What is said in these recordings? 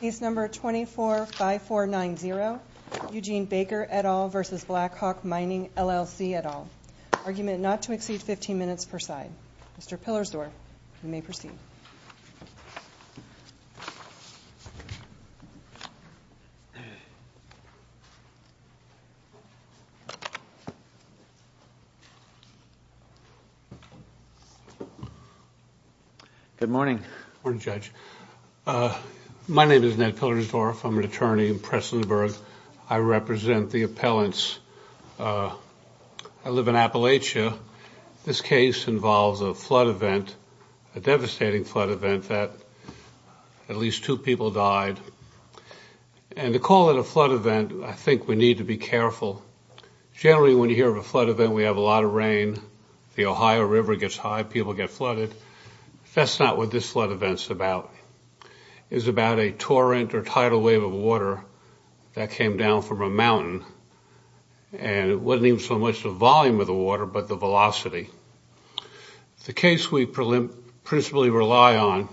Case number 245490, Eugene Baker, et al. v. Blackhawk Mining, LLC, et al. Argument not to exceed 15 minutes per side. Mr. Pillersdorf, you may proceed. Good morning. Good morning, Judge. My name is Ned Pillersdorf. I'm an attorney in Prestonburg. I represent the appellants. I live in Appalachia. This case involves a flood event, a devastating flood event that at least two people died. And to call it a flood event, I think we need to be careful. Generally, when you hear of a flood event, we have a lot of rain. The Ohio River gets high. People get flooded. That's not what this flood event's about. It's about a torrent or tidal wave of water that came down from a mountain. And it wasn't even so much the volume of the water, but the velocity. The case we principally rely on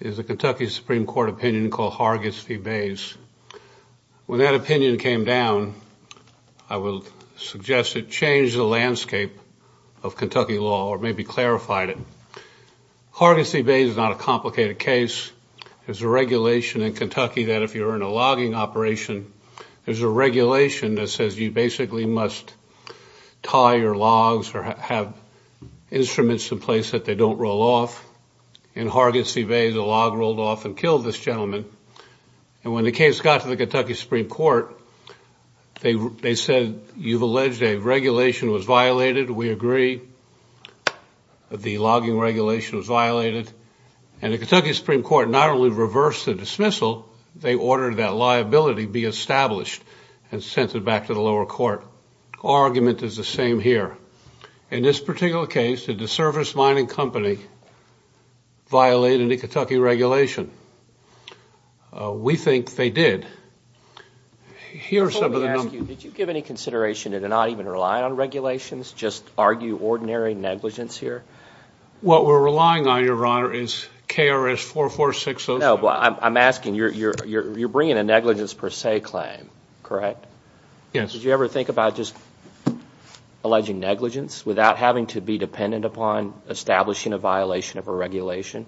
is a Kentucky Supreme Court opinion called Hargis v. Bays. When that opinion came down, I would suggest it changed the landscape of Kentucky law, or maybe clarified it. Hargis v. Bays is not a complicated case. There's a regulation in Kentucky that if you're in a logging operation, there's a regulation that says you basically must tie your logs or have instruments in place that they don't roll off. In Hargis v. Bays, a log rolled off and killed this gentleman. And when the case got to the Kentucky Supreme Court, they said, you've alleged a regulation was violated. We agree the logging regulation was violated. And the Kentucky Supreme Court not only reversed the dismissal, they ordered that liability be established and sent it back to the lower court. Our argument is the same here. In this particular case, did the service mining company violate any Kentucky regulation? We think they did. Here are some of the numbers. Before we ask you, did you give any consideration to not even rely on regulations, just argue ordinary negligence here? What we're relying on, Your Honor, is KRS 446-07. No, but I'm asking, you're bringing a negligence per se claim, correct? Yes. Did you ever think about just alleging negligence without having to be dependent upon establishing a violation of a regulation?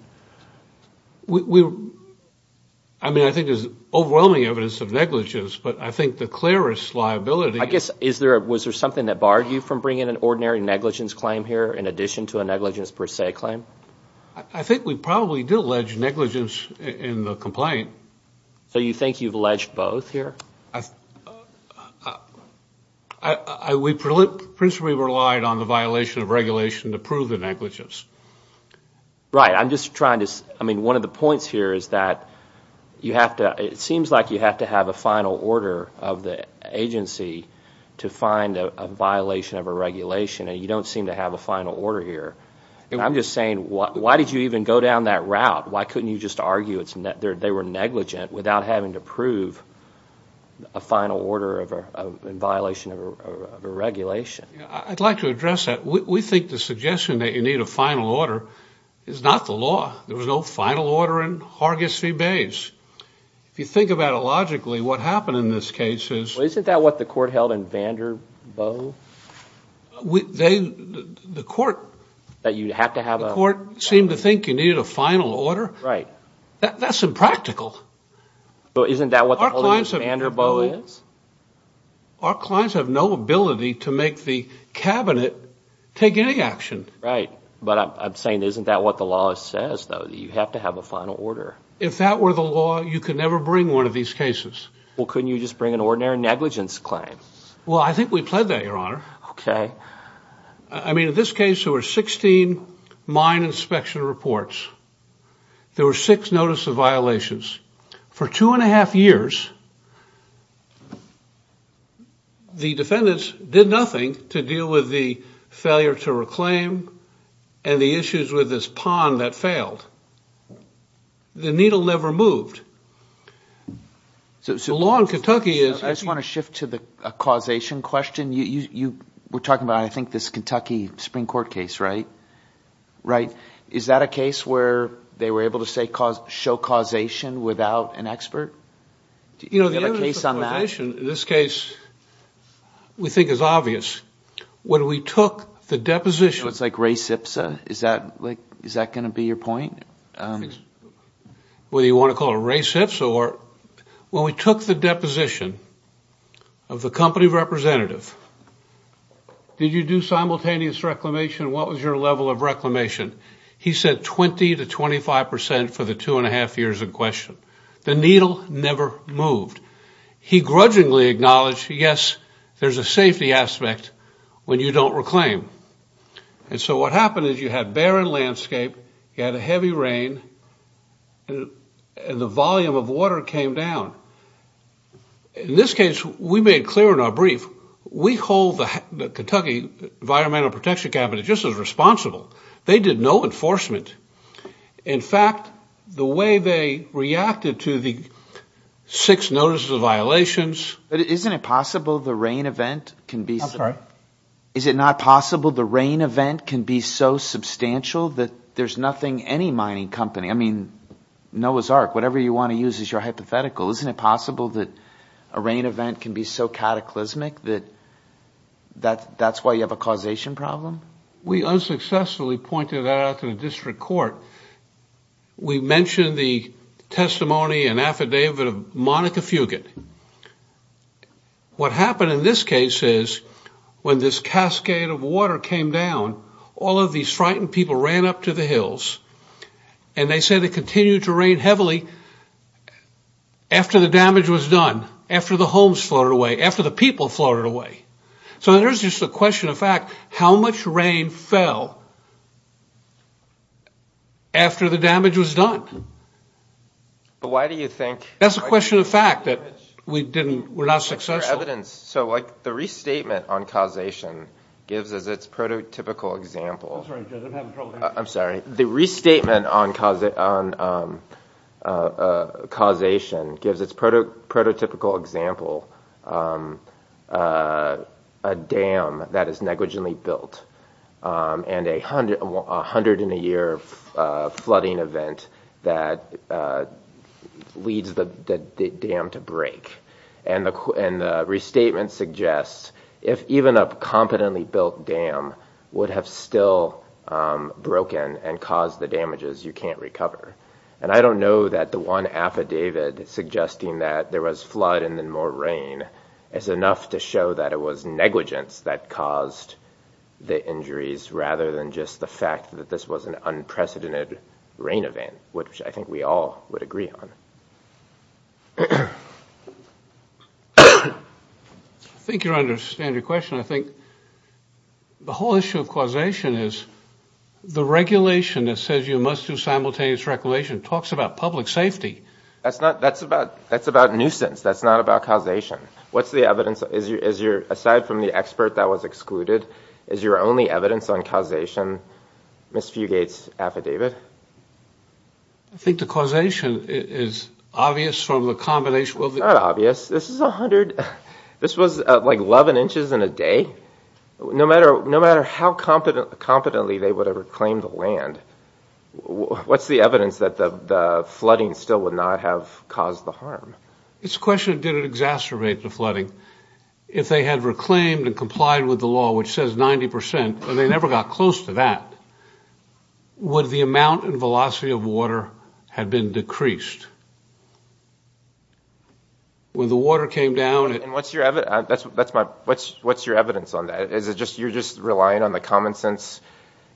I mean, I think there's overwhelming evidence of negligence. But I think the clearest liability is was there something that barred you from bringing an ordinary negligence claim here, in addition to a negligence per se claim? I think we probably did allege negligence in the complaint. So you think you've alleged both here? We principally relied on the violation of regulation to prove the negligence. Right, I'm just trying to, I mean, one of the points here is that it seems like you have to have a final order of the agency to find a violation of a regulation. And you don't seem to have a final order here. And I'm just saying, why did you even go down that route? Why couldn't you just argue they were negligent without having to prove a final order in violation of a regulation? I'd like to address that. We think the suggestion that you need a final order is not the law. There was no final order in Hargis v. Bates. If you think about it logically, what happened in this case is Well, isn't that what the court held in Vanderbilt? They, the court, That you'd have to have a final order. The court seemed to think you needed a final order. Right. That's impractical. Well, isn't that what the law in Vanderbilt is? Our clients have no ability to make the cabinet take any action. Right, but I'm saying isn't that what the law says, though, that you have to have a final order? If that were the law, you could never bring one of these cases. Well, couldn't you just bring an ordinary negligence claim? Well, I think we pled that, Your Honor. OK. I mean, in this case, there were 16 mine inspection reports. There were six notice of violations. For two and a half years, the defendants did nothing to deal with the failure to reclaim and the issues with this pond that failed. The needle never moved. So the law in Kentucky is... I just want to shift to the causation question. You were talking about, I think, this Kentucky Supreme Court case, right? Right. Is that a case where they were able to say show causation without an expert? You know, the evidence of causation in this case, we think is obvious. When we took the deposition... You know, it's like Ray Sipsa. Is that going to be your point? Whether you want to call it Ray Sipsa or... When we took the deposition of the company representative, did you do simultaneous reclamation? What was your level of reclamation? He said 20 to 25 percent for the two and a half years in question. The needle never moved. He grudgingly acknowledged, yes, there's a safety aspect when you don't reclaim. And so what happened is you had barren landscape. You had a heavy rain, and the volume of water came down. In this case, we made clear in our brief, we hold the Kentucky Environmental Protection Cabinet just as responsible. They did no enforcement. In fact, the way they reacted to the six notices of violations... But isn't it possible the rain event can be... I'm sorry? Is it not possible the rain event can be so substantial that there's nothing any mining company... I mean, Noah's Ark, whatever you want to use as your hypothetical. Isn't it possible that a rain event can be so cataclysmic that that's why you have a causation problem? We unsuccessfully pointed that out to the district court. We mentioned the testimony and affidavit of Monica Fugate. What happened in this case is when this cascade of water came down, all of these frightened people ran up to the hills, and they said it continued to rain heavily after the damage was done, after the homes floated away, after the people floated away. So there's just a question of fact, how much rain fell after the damage was done? But why do you think... That's a question of fact that we didn't... We're not successful. So, like, the restatement on causation gives us its prototypical example. I'm sorry. The restatement on causation gives its prototypical example a dam that is negligently built and a 100-in-a-year flooding event that leads the dam to break. And the restatement suggests if even a competently built dam would have still broken and caused the damages, you can't recover. And I don't know that the one affidavit suggesting that there was flood and then more rain is enough to show that it was negligence that caused the injuries, rather than just the fact that this was an unprecedented rain event, which I think we all would agree on. I think you understand your question. I think the whole issue of causation is the regulation that says you must do simultaneous reclamation talks about public safety. That's not... That's about nuisance. That's not about causation. What's the evidence? Aside from the expert that was excluded, is your only evidence on causation Ms. Fugate's affidavit? I think the causation is obvious from the combination of the... It's not obvious. This is 100... This was like 11 inches in a day. No matter how competently they would have reclaimed the land, what's the evidence that the flooding still would not have caused the harm? It's a question of did it exacerbate the flooding. If they had reclaimed and complied with the law, which says 90%, and they never got close to that, would the amount and velocity of water have been decreased? When the water came down... What's your evidence on that? You're just relying on the common sense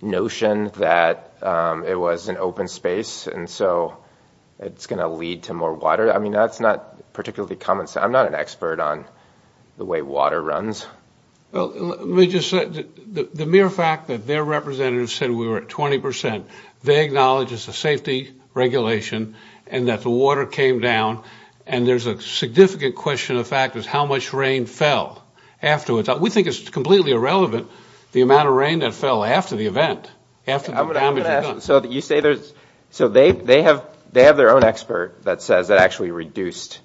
notion that it was an open space, and so it's going to lead to more water. I mean, that's not particularly common sense. I'm not an expert on the way water runs. Well, let me just say, the mere fact that their representatives said we were at 20%, they acknowledge it's a safety regulation and that the water came down. And there's a significant question of fact is how much rain fell afterwards. We think it's completely irrelevant the amount of rain that fell after the event, after the damage was done. So they have their own expert that says it actually reduced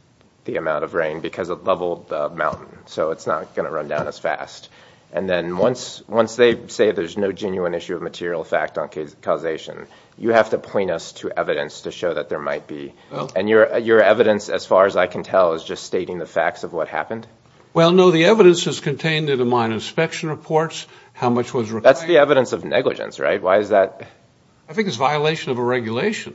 the amount of rain because it leveled the mountain. So it's not going to run down as fast. And then once they say there's no genuine issue of material fact on causation, you have to point us to evidence to show that there might be. And your evidence, as far as I can tell, is just stating the facts of what happened? Well, no, the evidence is contained in the mine inspection reports, how much was required. That's the evidence of negligence, right? Why is that? I think it's a violation of a regulation.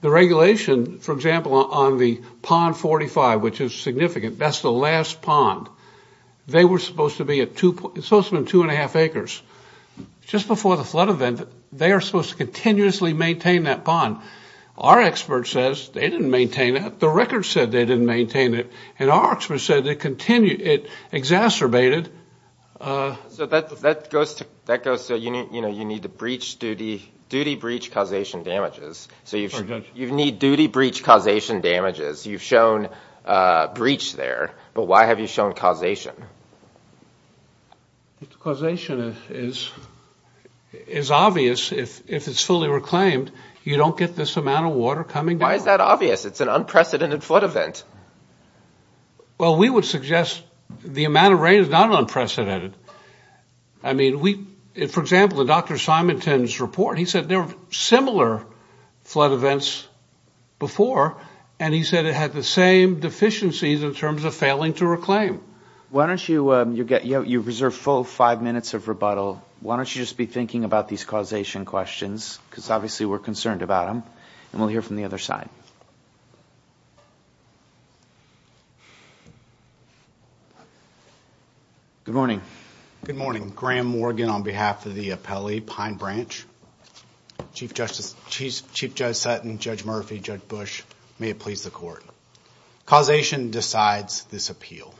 The regulation, for example, on the Pond 45, which is significant, that's the last pond. They were supposed to be at 2. It's supposed to have been 2 and 1⁄2 acres. Just before the flood event, they are supposed to continuously maintain that pond. Our expert says they didn't maintain it. The record said they didn't maintain it. And our expert said it exacerbated. So that goes to you need to duty breach causation damages. So you need duty breach causation damages. You've shown breach there. But why have you shown causation? Causation is obvious. If it's fully reclaimed, you don't get this amount of water coming down. Why is that obvious? It's an unprecedented flood event. Well, we would suggest the amount of rain is not unprecedented. I mean, for example, in Dr. Simonton's report, he said there were similar flood events before. And he said it had the same deficiencies in terms of failing to reclaim. Why don't you reserve full five minutes of rebuttal. Why don't you just be thinking about these causation questions? Because obviously, we're concerned about them. And we'll hear from the other side. Good morning. Good morning. Graham Morgan on behalf of the appellee Pine Branch. Chief Justice Sutton, Judge Murphy, Judge Bush, may it please the court. Causation decides this appeal.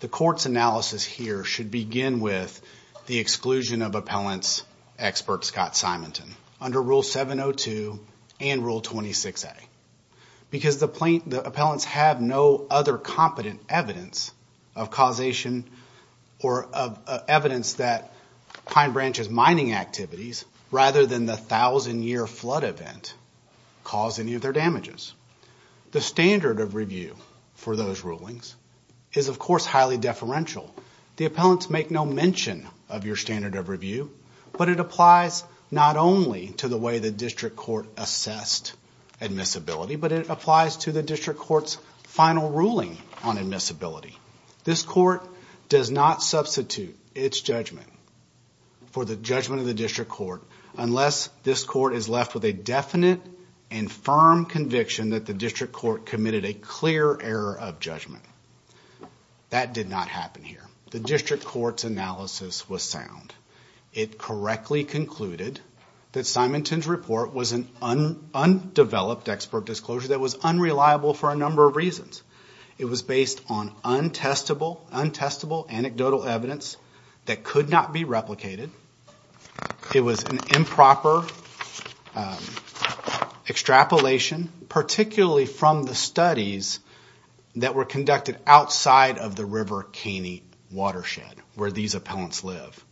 The court's analysis here should begin with the exclusion of appellant's expert, Scott Simonton. Under Rule 702 and Rule 26a. Because the appellants have no other competent evidence of causation or of evidence that Pine Branch's mining activities, rather than the 1,000-year flood event, caused any of their damages. The standard of review for those rulings is, of course, highly deferential. The appellants make no mention of your standard of review. But it applies not only to the way the district court assessed admissibility, but it applies to the district court's final ruling on admissibility. This court does not substitute its judgment for the judgment of the district court, unless this court is left with a definite and firm conviction that the district court committed a clear error of judgment. That did not happen here. The district court's analysis was sound. It correctly concluded that Simonton's report was an undeveloped expert disclosure that was unreliable for a number of reasons. It was based on untestable anecdotal evidence that could not be replicated. It was an improper extrapolation, particularly from the studies that were conducted outside of the River Canyon where the appellants live.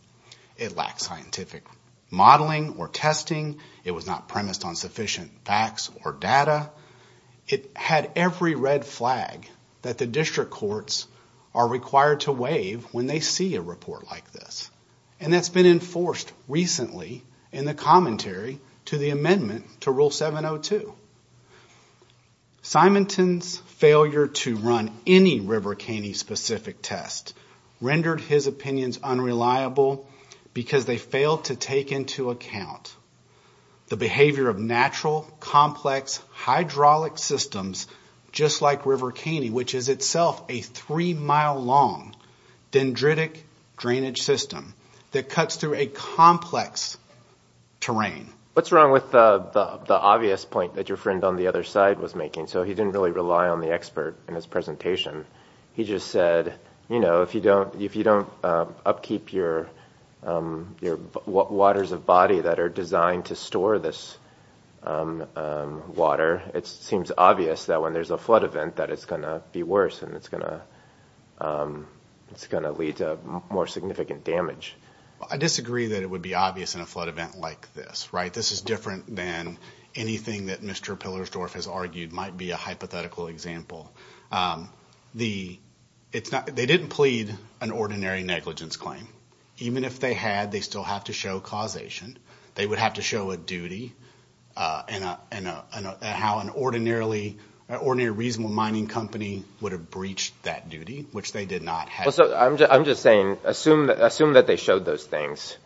It lacked scientific modeling or testing. It was not premised on sufficient facts or data. It had every red flag that the district courts are required to waive when they see a report like this. And that's been enforced recently in the commentary to the amendment to Rule 702. Simonton's failure to run any River Canyon-specific test rendered his opinions unreliable, because they failed to take into account the behavior of natural, complex, hydraulic systems just like River Caney, which is itself a three-mile-long dendritic drainage system that cuts through a complex terrain. What's wrong with the obvious point that your friend on the other side was making? So he didn't really rely on the expert in his presentation. He just said, if you don't upkeep your waters of body that are designed to store this water, it seems obvious that when there's a flood event, that it's going to be worse. And it's going to lead to more significant damage. I disagree that it would be obvious in a flood event like this. This is different than anything that Mr. Pillersdorf has argued might be a hypothetical example. They didn't plead an ordinary negligence claim. Even if they had, they still have to show causation. They would have to show a duty and how an ordinary reasonable mining company would have breached that duty, which they did not have. So I'm just saying, assume that they showed those things.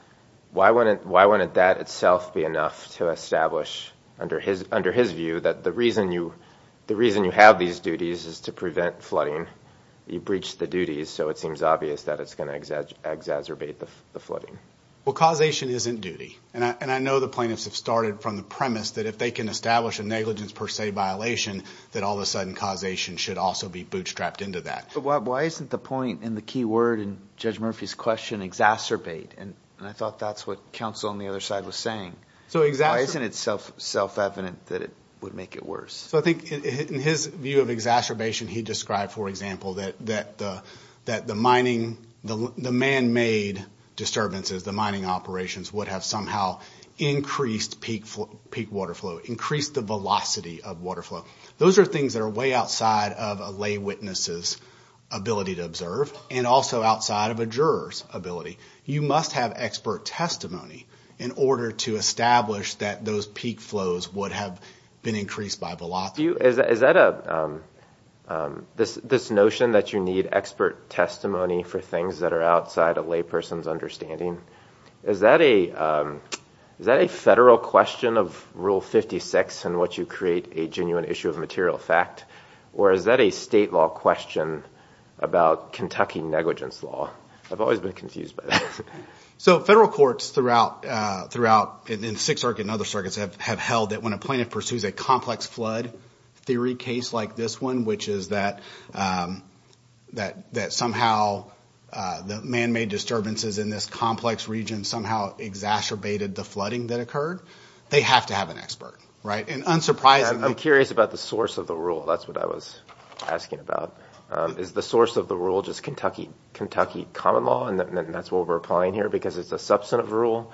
Why wouldn't that itself be enough to establish, under his view, that the reason you have these duties is to prevent flooding? You breached the duties, so it seems obvious that it's going to exacerbate the flooding. Well, causation isn't duty. And I know the plaintiffs have started from the premise that if they can establish a negligence per se violation, that all of a sudden causation should also be bootstrapped into that. Why isn't the point in the key word in Judge Murphy's question exacerbate? And I thought that's what counsel on the other side was saying. Why isn't it self-evident that it would make it worse? So I think in his view of exacerbation, he described, for example, that the man-made disturbances, the mining operations, would have somehow increased peak water flow, increased the velocity of water flow. Those are things that are way outside of a lay witness's ability to observe, and also outside of a juror's ability. You must have expert testimony in order to establish that those peak flows would have been increased by velocity. Is that a notion that you need expert testimony for things that are outside a lay person's understanding? Is that a federal question of Rule 56 in which you create a genuine issue of material fact? Or is that a state law question about Kentucky negligence law? I've always been confused by that. So federal courts throughout, in the Sixth Circuit and other circuits, have held that when a plaintiff pursues a complex flood theory case like this one, which is that somehow the man-made disturbances in this complex region somehow exacerbated the flooding that occurred, they have to have an expert. And unsurprisingly. I'm curious about the source of the rule. That's what I was asking about. Is the source of the rule just Kentucky common law? And that's what we're applying here. Because it's a substantive rule?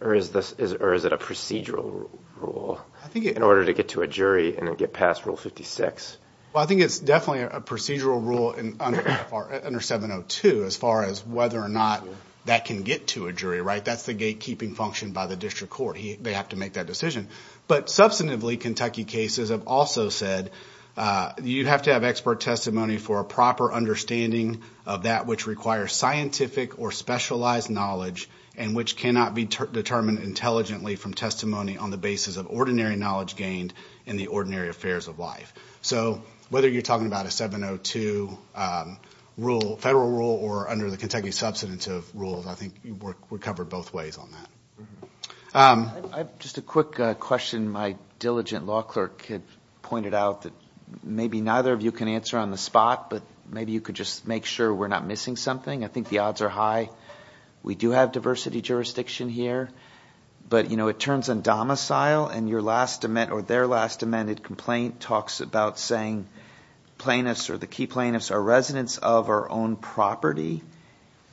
Or is it a procedural rule in order to get to a jury and then get past Rule 56? Well, I think it's definitely a procedural rule under 702 as far as whether or not that can get to a jury. That's the gatekeeping function by the district court. They have to make that decision. But substantively, Kentucky cases have also said you have to have expert testimony for a proper understanding of that which requires scientific or specialized knowledge and which cannot be determined intelligently from testimony on the basis of ordinary knowledge gained in the ordinary affairs of life. So whether you're talking about a 702 federal rule or under the Kentucky substantive rules, I think we're covered both ways on that. Just a quick question. My diligent law clerk had pointed out that maybe neither of you can answer on the spot. But maybe you could just make sure we're not missing something. I think the odds are high. We do have diversity jurisdiction here. But it turns on domicile. And your last or their last amended complaint talks about saying plaintiffs or the key plaintiffs are residents of our own property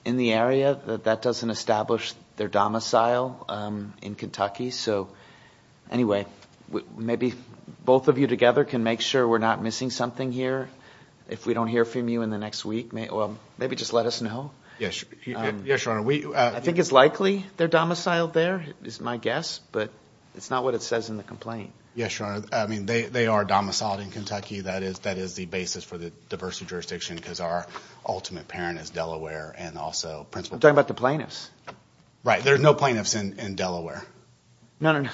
in the area. That doesn't establish their domicile in Kentucky. So anyway, maybe both of you together can make sure we're not missing something here. If we don't hear from you in the next week, maybe just let us know. Yes, Your Honor. I think it's likely they're domiciled there is my guess. But it's not what it says in the complaint. Yes, Your Honor. I mean, they are domiciled in Kentucky. That is the basis for the diversity jurisdiction because our ultimate parent is Delaware and also principal. I'm talking about the plaintiffs. Right, there's no plaintiffs in Delaware. No, no, no.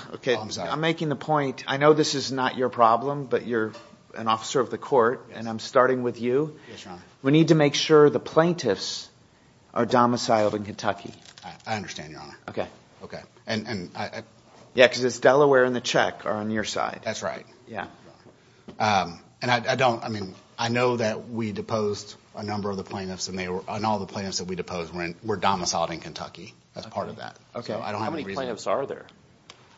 I'm making the point. I know this is not your problem. But you're an officer of the court. And I'm starting with you. We need to make sure the plaintiffs are domiciled in Kentucky. I understand, Your Honor. Yeah, because it's Delaware and the Czech are on your side. That's right. And I don't, I mean, I know that we deposed a number of the plaintiffs and all the plaintiffs that we deposed were domiciled in Kentucky as part of that. OK, how many plaintiffs are there?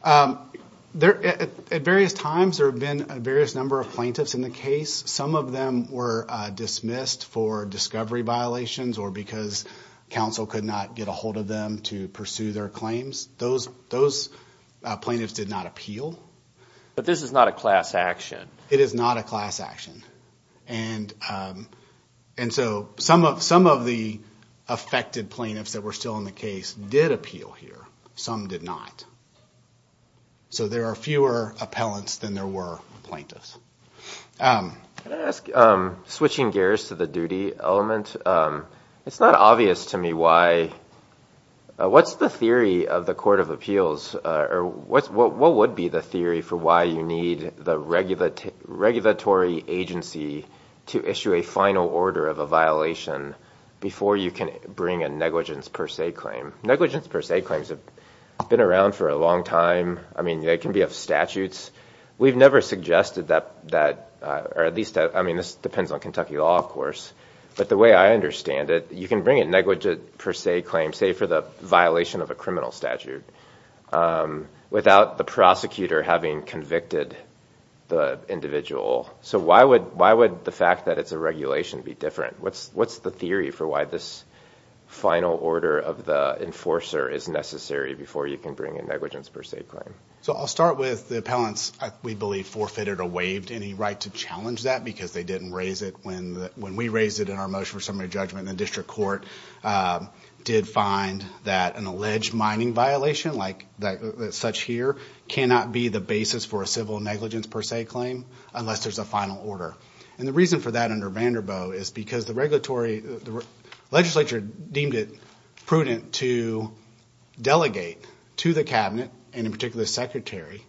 At various times, there have been a various number of plaintiffs in the case. Some of them were dismissed for discovery violations or because counsel could not get a hold of them to pursue their claims. Those plaintiffs did not appeal. But this is not a class action. It is not a class action. And so some of the affected plaintiffs that were still in the case did appeal here. Some did not. So there are fewer appellants than there were plaintiffs. Can I ask, switching gears to the duty element, it's not obvious to me why, what's the theory of the Court of Appeals, or what would be the theory for why you need the regulatory agency to issue a final order of a violation before you can bring a negligence per se claim? Negligence per se claims have been around for a long time. I mean, they can be of statutes. We've never suggested that, or at least, I mean, this depends on Kentucky law, of course. But the way I understand it, you can bring a negligence per se claim, say, for the violation of a criminal statute, without the prosecutor having convicted the individual. So why would the fact that it's a regulation be different? What's the theory for why this final order of the enforcer is necessary before you can bring a negligence per se claim? So I'll start with the appellants, we believe, forfeited or waived any right to challenge that, because they didn't raise it when we raised it in our motion for summary judgment. The district court did find that an alleged mining violation, like such here, cannot be the basis for a civil negligence per se claim unless there's a final order. And the reason for that under Vanderbilt is because the legislature deemed it prudent to delegate to the cabinet, and in particular the secretary,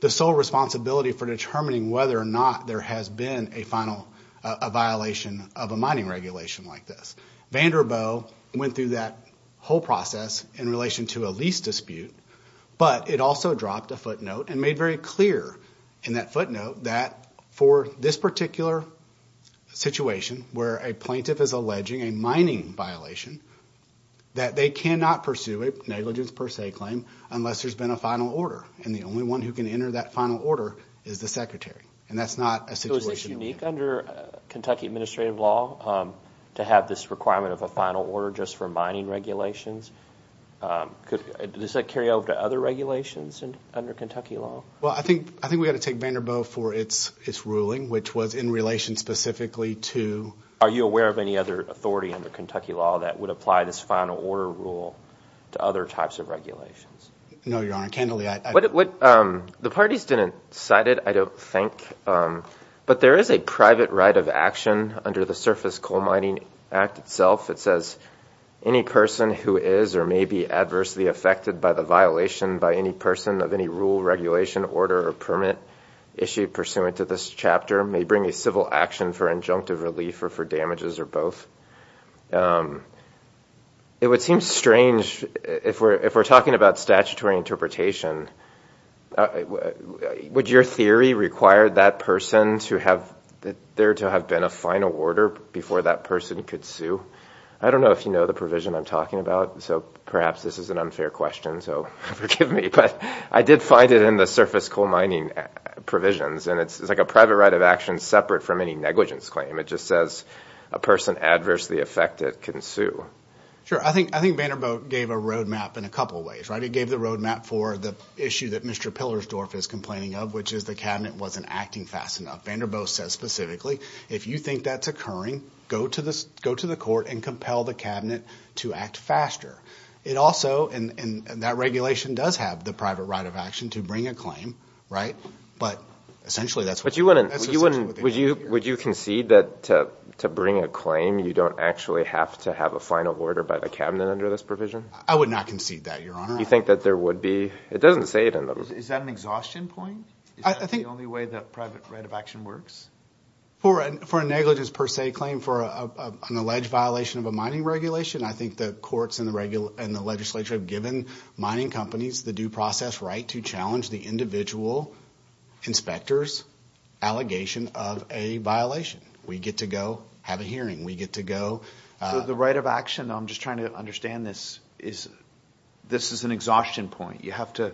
the sole responsibility for determining whether or not there has been a violation of a mining regulation like this. Vanderbilt went through that whole process in relation to a lease dispute, but it also dropped a footnote and made very clear in that footnote that for this particular situation, where a plaintiff is alleging a mining violation, that they cannot pursue a negligence per se claim unless there's been a final order. And the only one who can enter that final order is the secretary. And that's not a situation that we have. So is it unique under Kentucky administrative law to have this requirement of a final order just for mining regulations? Does that carry over to other regulations under Kentucky law? Well, I think we've got to take Vanderbilt for its ruling, which was in relation specifically to... Are you aware of any other authority under Kentucky law that would apply this final order rule to other types of regulations? No, Your Honor. Candidly, I... The parties didn't cite it, I don't think. But there is a private right of action under the Surface Coal Mining Act itself. It says, any person who is or may be adversely affected by the violation by any person of any rule, regulation, order, or permit issued pursuant to this chapter may bring a civil action for injunctive relief or for damages or both. It would seem strange if we're talking about statutory interpretation. Would your theory require that person to have there to have been a final order before that person could sue? I don't know if you know the provision I'm talking about. So perhaps this is an unfair question, so forgive me. But I did find it in the Surface Coal Mining provisions. And it's like a private right of action separate from any negligence claim. It just says, a person adversely affected can sue. Sure, I think Vanderbilt gave a roadmap in a couple of ways. It gave the roadmap for the issue that Mr. Pillersdorf is complaining of, which is the cabinet wasn't acting fast enough. Vanderbilt says specifically, if you think that's occurring, go to the court and compel the cabinet to act faster. It also, and that regulation does have the private right of action to bring a claim, right? But essentially, that's what's essentially what they want. Would you concede that to bring a claim, you don't actually have to have a final order by the cabinet under this provision? I would not concede that, Your Honor. You think that there would be? It doesn't say it in them. Is that an exhaustion point? Is that the only way that private right of action works? For a negligence per se claim for an alleged violation of a mining regulation, I think the courts and the legislature have given mining companies the due process right to challenge the individual inspector's allegation of a violation. We get to go have a hearing. We get to go. The right of action, I'm just trying to understand this, is this is an exhaustion point. You have to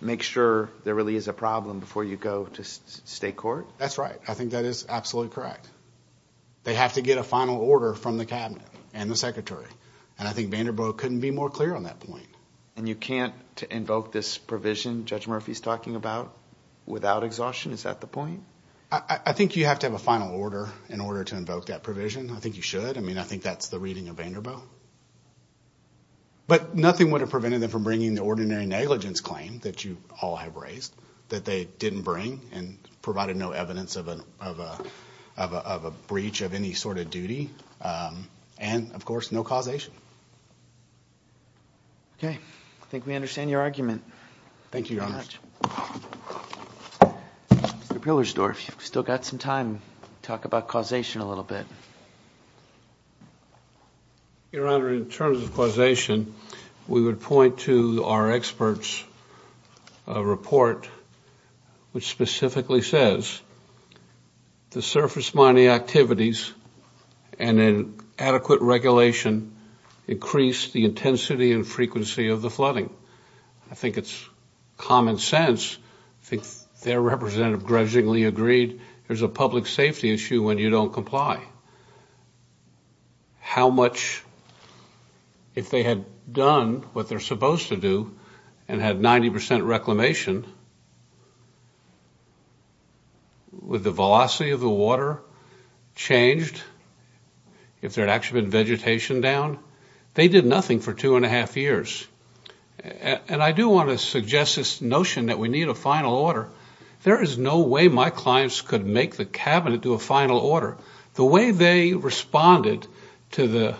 make sure there really is a problem before you go to state court? That's right. I think that is absolutely correct. They have to get a final order from the cabinet and the secretary. And I think Vanderbilt couldn't be more clear on that point. And you can't invoke this provision Judge Murphy's talking about without exhaustion? Is that the point? I think you have to have a final order in order to invoke that provision. I think you should. I mean, I think that's the reading of Vanderbilt. But nothing would have prevented them from bringing the ordinary negligence claim that you all have raised, that they didn't bring and provided no evidence of a breach of any sort of duty. And of course, no causation. OK. I think we understand your argument. Thank you, Your Honor. Mr. Pihlersdorf, you've still got some time. Talk about causation a little bit. Your Honor, in terms of causation, we would point to our expert's report, which specifically says, the surface mining activities and an adequate regulation increase the intensity and frequency of the flooding. I think it's common sense. I think their representative grudgingly agreed there's a public safety issue when you don't comply. How much, if they had done what they're supposed to do and had 90% reclamation, would the velocity of the water changed if there had actually been vegetation down? They did nothing for two and a half years. And I do want to suggest this notion that we need a final order. There is no way my clients could make the cabinet do a final order. The way they responded to the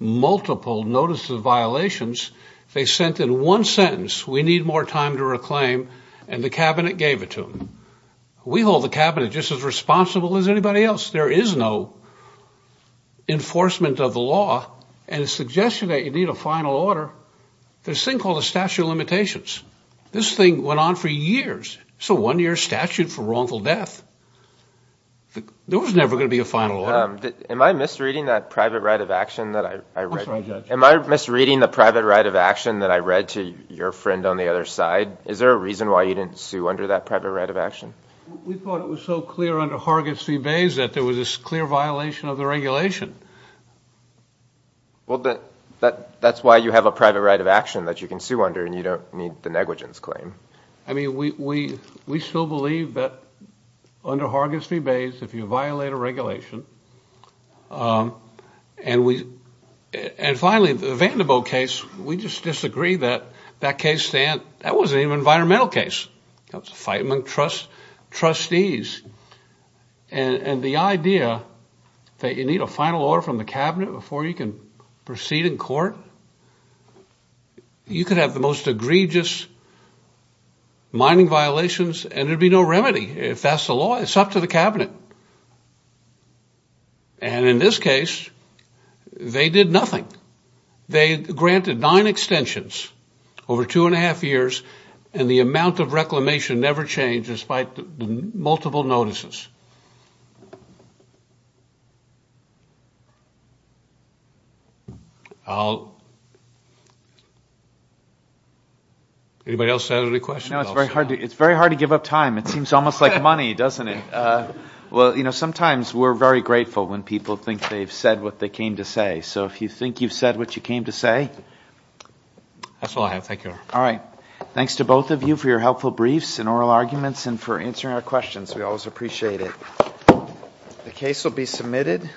multiple notices of violations, they sent in one sentence, we need more time to reclaim, and the cabinet gave it to them. We hold the cabinet just as responsible as anybody else. There is no enforcement of the law. And a suggestion that you need a final order, there's a thing called a statute of limitations. This thing went on for years. It's a one-year statute for wrongful death. There was never going to be a final order. Am I misreading that private right of action that I read? I'm sorry, Judge. Am I misreading the private right of action that I read to your friend on the other side? Is there a reason why you didn't sue under that private right of action? We thought it was so clear under Hargis v. Bays that there was this clear violation of the regulation. Well, that's why you have a private right of action that you can sue under and you don't need the negligence claim. I mean, we still believe that under Hargis v. Bays, if you violate a regulation, and finally, the Vanderbilt case, we just disagree that that case, that wasn't even an environmental case. That was a fight among trustees. And the idea that you need a final order from the cabinet before you can proceed in court, you could have the most egregious mining violations and there'd be no remedy. If that's the law, it's up to the cabinet. And in this case, they did nothing. They granted nine extensions over two and a half years and the amount of reclamation never changed despite the multiple notices. Anybody else have any questions? It's very hard to give up time. It seems almost like money, doesn't it? Well, sometimes we're very grateful when people think they've said what they came to say. So if you think you've said what you came to say. That's all I have. Thank you. All right. Thanks to both of you for your helpful briefs and oral arguments and for answering our questions. We always appreciate it. The case will be submitted.